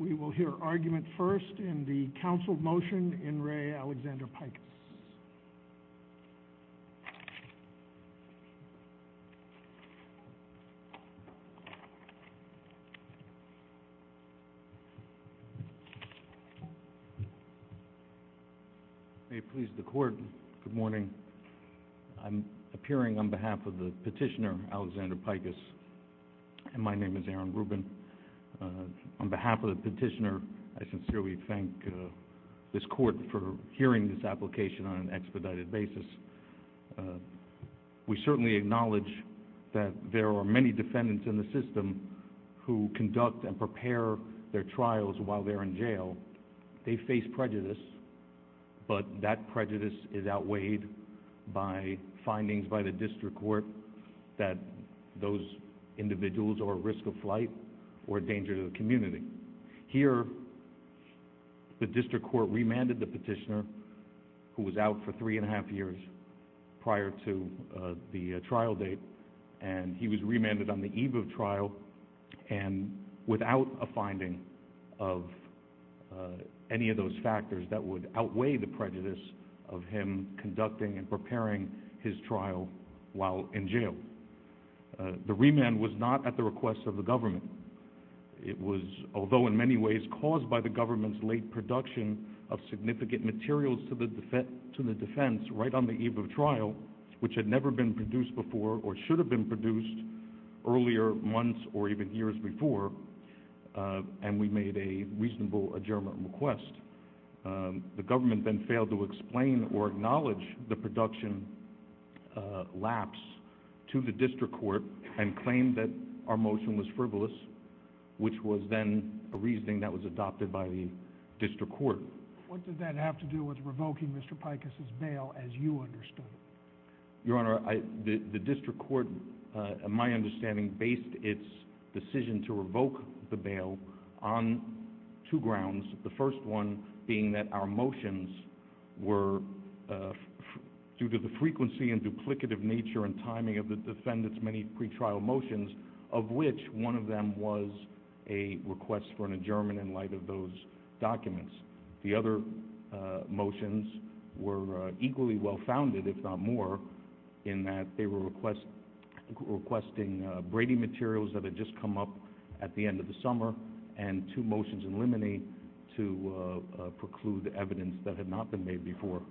We will hear argument first in the council motion in Re. Aleksandr Pikus. May it please the court, good morning. I'm appearing on behalf of the petitioner, Aleksandr Pikus, and my name is Aaron Rubin. On behalf of the petitioner, I sincerely thank this court for hearing this application on an expedited basis. We certainly acknowledge that there are many defendants in the system who conduct and prepare their trials while they're in jail. They face prejudice, but that prejudice is outweighed by findings by the district court that those individuals are a risk of flight or a danger to the community. Here, the district court remanded the petitioner, who was out for three and a half years prior to the trial date, and he was remanded on the eve of trial and without a finding of any of those factors that would outweigh the prejudice of him conducting and preparing his trial while in jail. The remand was not at the request of the government. It was, although in many ways caused by the government's late production of significant materials to the defense right on the eve of trial, which had never been produced before or should have been produced earlier months or even years before, and we made a reasonable adjournment request. The government then failed to explain or acknowledge the production lapse to the district court and claimed that our motion was frivolous, which was then a reasoning that was adopted by the district court. What did that have to do with revoking Mr. Pikus' bail as you understood it? Your Honor, the district court, in my understanding, based its decision to revoke the bail on two being that our motions were, due to the frequency and duplicative nature and timing of the defendant's many pretrial motions, of which one of them was a request for an adjournment in light of those documents. The other motions were equally well-founded, if not more, in that they were requesting Brady materials that had just come up at the end of the summer and two motions in limine to preclude evidence that had not been made before.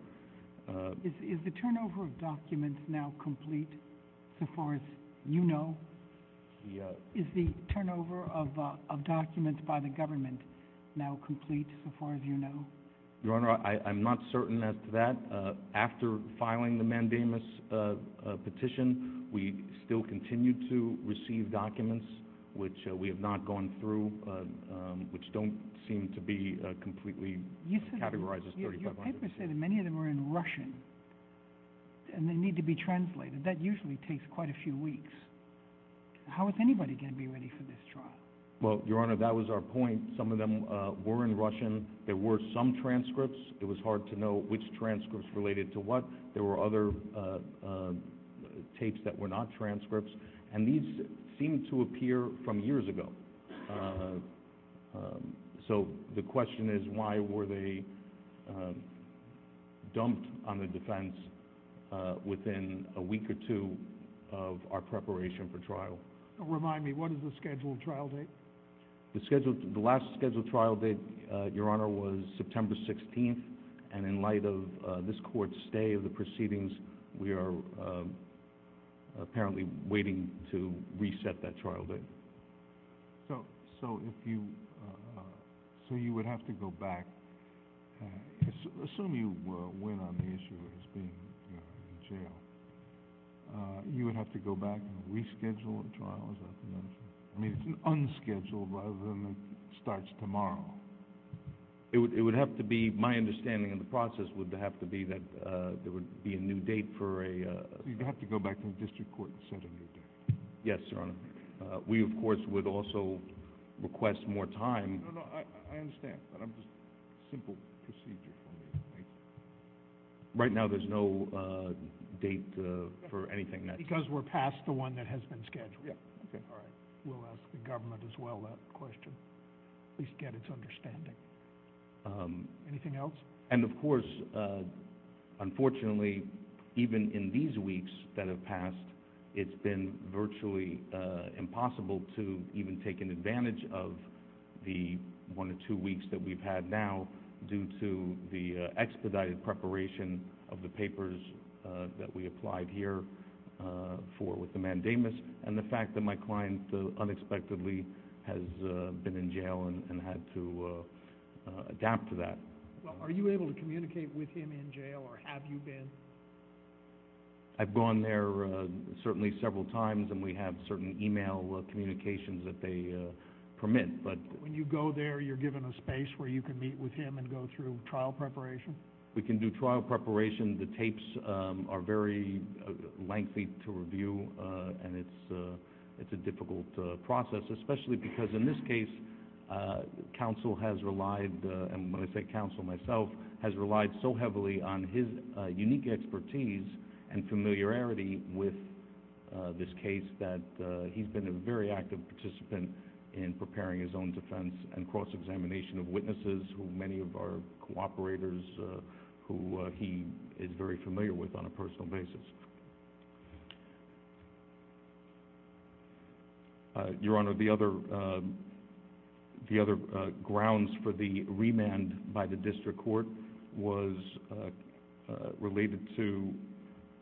Is the turnover of documents now complete, so far as you know? Yes. Is the turnover of documents by the government now complete, so far as you know? Your Honor, I'm not certain as to that. After filing the mandamus petition, we still continue to receive documents which we have not gone through, which don't seem to be completely categorized as 3,500. Your papers say that many of them are in Russian, and they need to be translated. That usually takes quite a few weeks. How is anybody going to be ready for this trial? Well, Your Honor, that was our point. Some of them were in Russian. There were some transcripts. It was hard to know which transcripts related to what. There were other tapes that were not transcripts. And these seem to appear from years ago. So the question is, why were they dumped on the defense within a week or two of our preparation for trial? Remind me, what is the scheduled trial date? The last scheduled trial date, Your Honor, was September 16th. And in light of this Court's stay of the proceedings, we are apparently waiting to reset that trial date. So you would have to go back. Assume you win on the issue of his being in jail. You would have to go back and reschedule the trial, as I've mentioned. I mean, it's unscheduled rather than it starts tomorrow. It would have to be, my understanding of the process would have to be that there would be a new date for a... So you'd have to go back to the district court and set a new date. Yes, Your Honor. We, of course, would also request more time. No, no, I understand, but I'm just, simple procedure for me to make. Right now, there's no date for anything next. Because we're past the one that has been scheduled. Yeah, okay, all right. We'll ask the government as well that question. At least get its understanding. Anything else? And of course, unfortunately, even in these weeks that have passed, it's been virtually impossible to even take an advantage of the one or two weeks that we've had now due to the expedited preparation of the papers that we applied here for with the mandamus. And the fact that my client, unexpectedly, has been in jail and had to adapt to that. Well, are you able to communicate with him in jail, or have you been? I've gone there certainly several times, and we have certain email communications that they permit, but... When you go there, you're given a space where you can meet with him and go through trial preparation? We can do trial preparation. As you mentioned, the tapes are very lengthy to review, and it's a difficult process, especially because in this case, counsel has relied, and when I say counsel, myself, has relied so heavily on his unique expertise and familiarity with this case that he's been a very active participant in preparing his own defense and cross-examination of witnesses, who many of our cooperators, who he is very familiar with on a personal basis. Your Honor, the other grounds for the remand by the district court was related to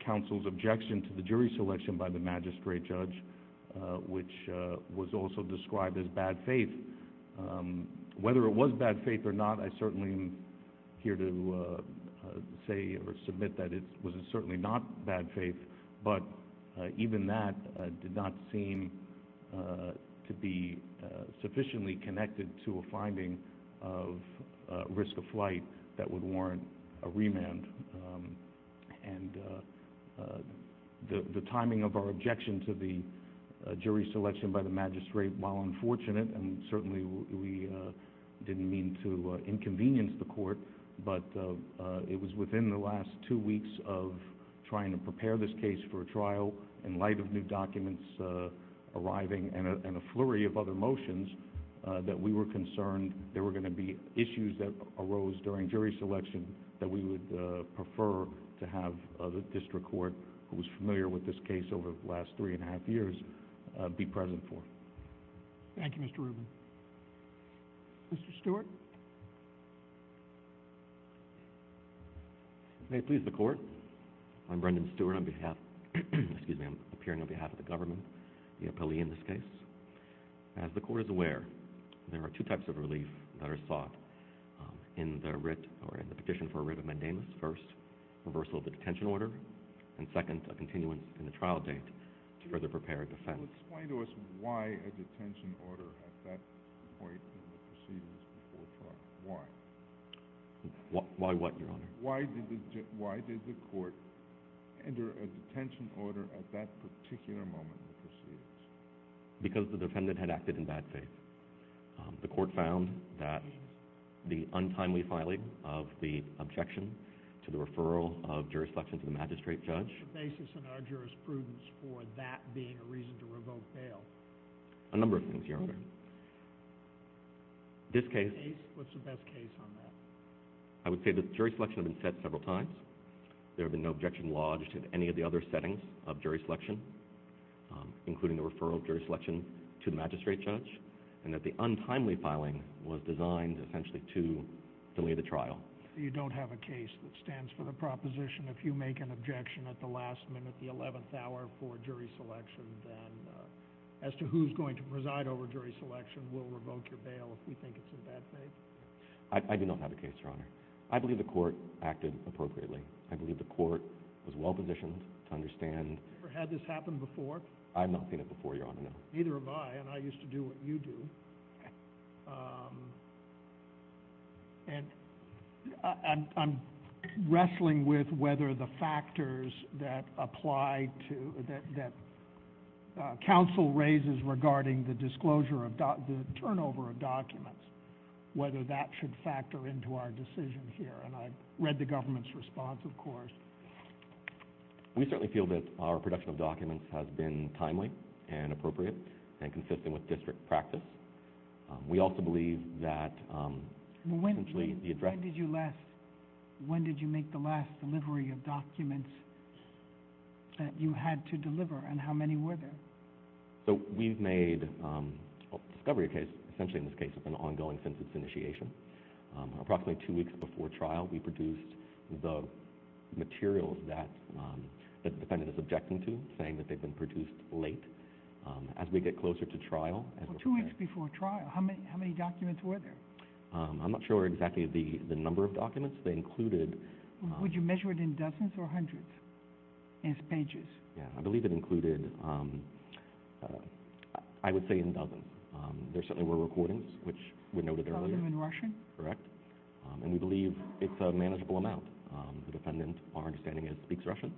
counsel's objection to the jury selection by the magistrate judge, which was also described as bad faith. Whether it was bad faith or not, I certainly am here to say or submit that it was certainly not bad faith, but even that did not seem to be sufficiently connected to a finding of risk of flight that would warrant a remand. And the timing of our objection to the jury selection by the magistrate, while unfortunate, and certainly we didn't mean to inconvenience the court, but it was within the last two weeks of trying to prepare this case for a trial, in light of new documents arriving and a flurry of other motions, that we were concerned there were going to be issues that arose during jury selection that we would prefer to have the district court, who was familiar with this case over the last three and a half years, be present for. Thank you, Mr. Rubin. Mr. Stewart? If it may please the court, I'm Brendan Stewart. I'm appearing on behalf of the government, the appellee in this case. As the court is aware, there are two types of relief that are sought in the petition for a writ of mandamus. First, reversal of the detention order, and second, a continuance in the trial date to further prepare a defense. Can you explain to us why a detention order at that point in the proceedings before trial? Why? Why what, Your Honor? Why did the court enter a detention order at that particular moment in the proceedings? Because the defendant had acted in bad faith. The court found that the untimely filing of the objection to the referral of jury selection to the magistrate judge... What's the basis in our jurisprudence for that being a reason to revoke bail? A number of things, Your Honor. This case... What's the best case on that? I would say that jury selection had been set several times. There had been no objection lodged in any of the other settings of jury selection, including the referral of jury selection to the magistrate judge, and that the untimely filing was designed essentially to delay the trial. You don't have a case that stands for the proposition if you make an objection at the last minute, the 11th hour, for jury selection, then as to who's going to preside over jury selection will revoke your bail if we think it's in bad faith? I believe the court acted appropriately. I believe the court was well-positioned to understand... You've never had this happen before? I've not seen it before, Your Honor, no. Neither have I, and I used to do what you do. And I'm wrestling with whether the factors that apply to... that counsel raises regarding the disclosure of... the turnover of documents, whether that should factor into our decision here. And I read the government's response, of course. We certainly feel that our production of documents has been timely and appropriate and consistent with district practice. We also believe that... When did you last... When did you make the last delivery of documents that you had to deliver, and how many were there? So we've made a discovery case, essentially in this case, that's been ongoing since its initiation. Approximately two weeks before trial, we produced the materials that the defendant is objecting to, saying that they've been produced late. As we get closer to trial... Well, two weeks before trial, how many documents were there? I'm not sure exactly the number of documents. They included... Would you measure it in dozens or hundreds as pages? Yeah, I believe it included... I would say in dozens. There certainly were recordings, which were noted earlier. Dozens in Russian? Correct. And we believe it's a manageable amount. The defendant, our understanding is, speaks Russian.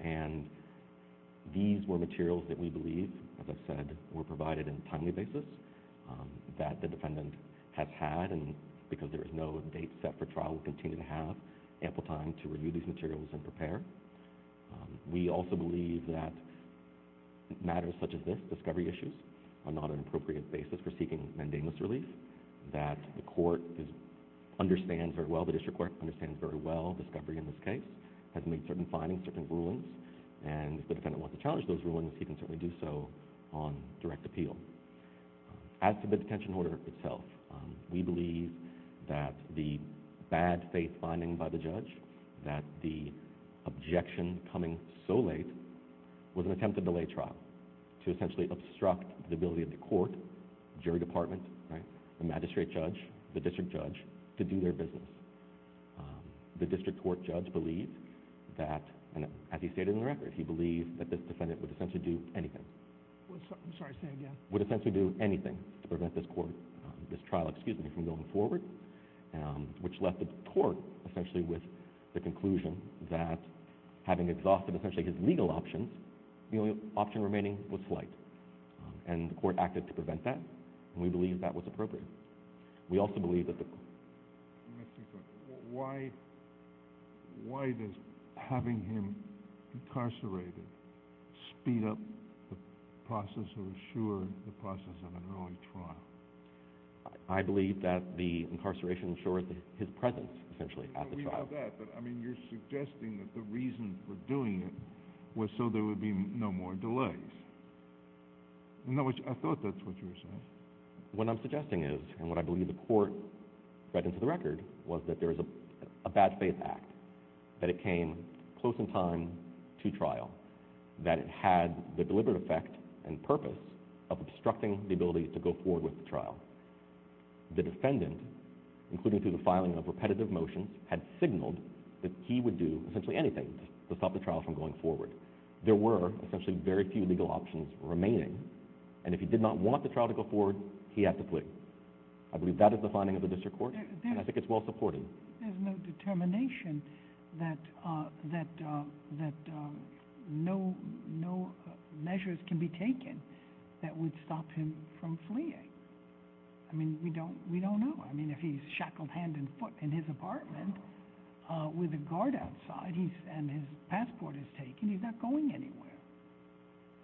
And these were materials that we believe, as I said, were provided on a timely basis, that the defendant has had, and because there is no date set for trial, will continue to have ample time to review these materials and prepare. We also believe that matters such as this, discovery issues, are not an appropriate basis for seeking mandamus relief, that the court understands very well, the district court understands very well, that this discovery in this case has made certain findings, certain rulings, and if the defendant wants to challenge those rulings, he can certainly do so on direct appeal. As to the detention order itself, we believe that the bad faith finding by the judge, that the objection coming so late, was an attempt to delay trial, to essentially obstruct the ability of the court, jury department, the magistrate judge, the district judge, to do their business. The district court judge believed that, as he stated in the record, he believed that this defendant would essentially do anything. I'm sorry, say that again. Would essentially do anything to prevent this court, this trial, excuse me, from going forward, which left the court essentially with the conclusion that, having exhausted essentially his legal options, the only option remaining was flight. And the court acted to prevent that, and we believe that was appropriate. We also believe that the court... Let me ask you a question. Why does having him incarcerated speed up the process or assure the process of an early trial? I believe that the incarceration ensures his presence, essentially, at the trial. We know that, but I mean, you're suggesting that the reason for doing it was so there would be no more delays. I thought that's what you were saying. What I'm suggesting is, and what I believe the court read into the record, was that there is a bad faith act, that it came close in time to trial, that it had the deliberate effect and purpose of obstructing the ability to go forward with the trial. The defendant, including through the filing of repetitive motions, had signaled that he would do essentially anything to stop the trial from going forward. There were essentially very few legal options remaining, and if he did not want the trial to go forward, he had to flee. I believe that is the finding of the district court, and I think it's well supported. There's no determination that no measures can be taken that would stop him from fleeing. I mean, we don't know. I mean, if he's shackled hand and foot in his apartment with a guard outside and his passport is taken, he's not going anywhere.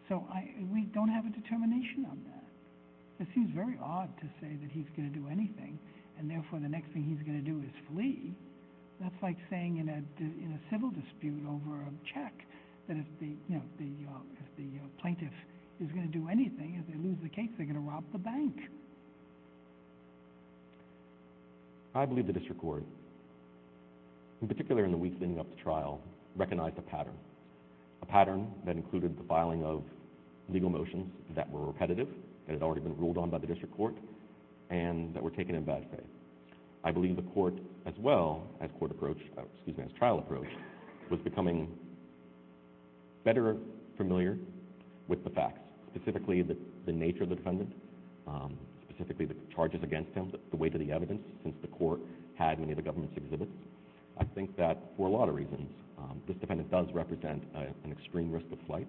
So we don't have a determination on that. It seems very odd to say that he's going to do anything, and therefore the next thing he's going to do is flee. That's like saying in a civil dispute over a check that if the plaintiff is going to do anything, if they lose the case, they're going to rob the bank. I believe the district court, in particular in the weeks leading up to trial, recognized a pattern, a pattern that included the filing of legal motions that were repetitive, that had already been ruled on by the district court, and that were taken in bad faith. I believe the court, as well as trial approach, was becoming better familiar with the facts, specifically the nature of the defendant, specifically the charges against him, the weight of the evidence since the court had many of the government's exhibits. I think that, for a lot of reasons, this defendant does represent an extreme risk of flight,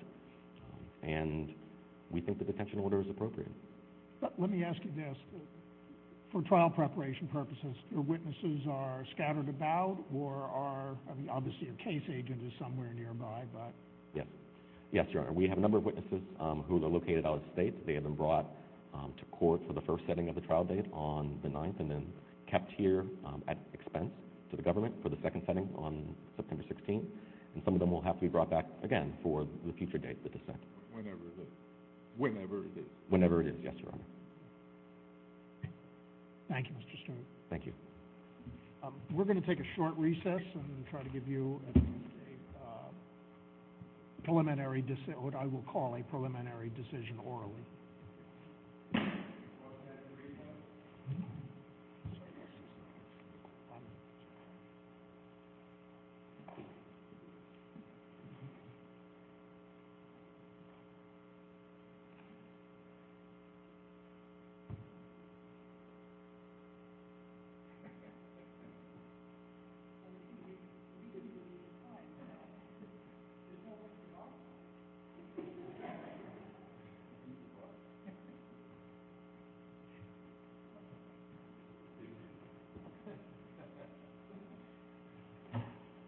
and we think the detention order is appropriate. Let me ask you this. For trial preparation purposes, your witnesses are scattered about, or obviously a case agent is somewhere nearby. Yes, Your Honor. We have a number of witnesses who are located out of state. They have been brought to court for the first setting of the trial date on the 9th and then kept here at expense to the government for the second setting on September 16th, and some of them will have to be brought back again for the future date, the dissent. Whenever it is. Whenever it is. Whenever it is, yes, Your Honor. Thank you, Mr. Stern. Thank you. We're going to take a short recess and try to give you a preliminary decision, what I will call a preliminary decision orally. Do you support that in the recess? I support it. Thank you. Thank you.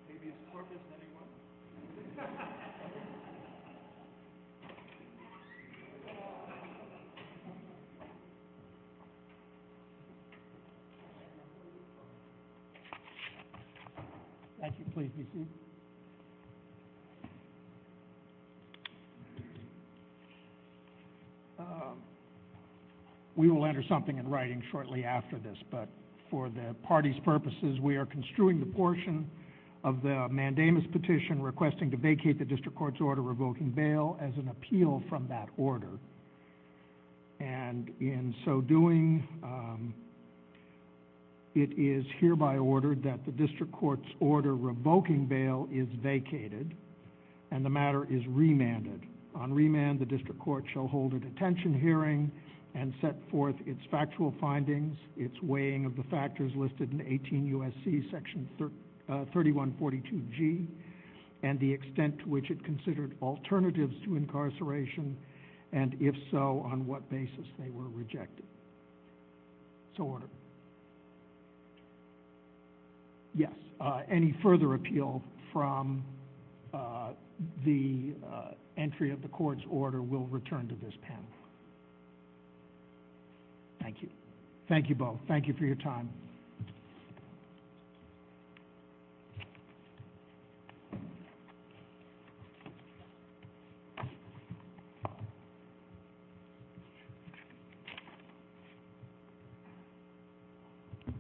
Maybe you support this, anyone? Thank you. Thank you. Please be seated. We will enter something in writing shortly after this, but for the party's purposes, we are construing the portion of the mandamus petition requesting to vacate the district court's order revoking bail as an appeal from that order. In so doing, it is hereby ordered that the district court's order revoking bail is vacated and the matter is remanded. On remand, the district court shall hold a detention hearing and set forth its factual findings, its weighing of the factors listed in 18 U.S.C. section 3142G, and the extent to which it considered alternatives to incarceration, and if so, on what basis they were rejected. It's ordered. Yes. Any further appeal from the entry of the court's order will return to this panel. Thank you. Thank you both. Thank you for your time.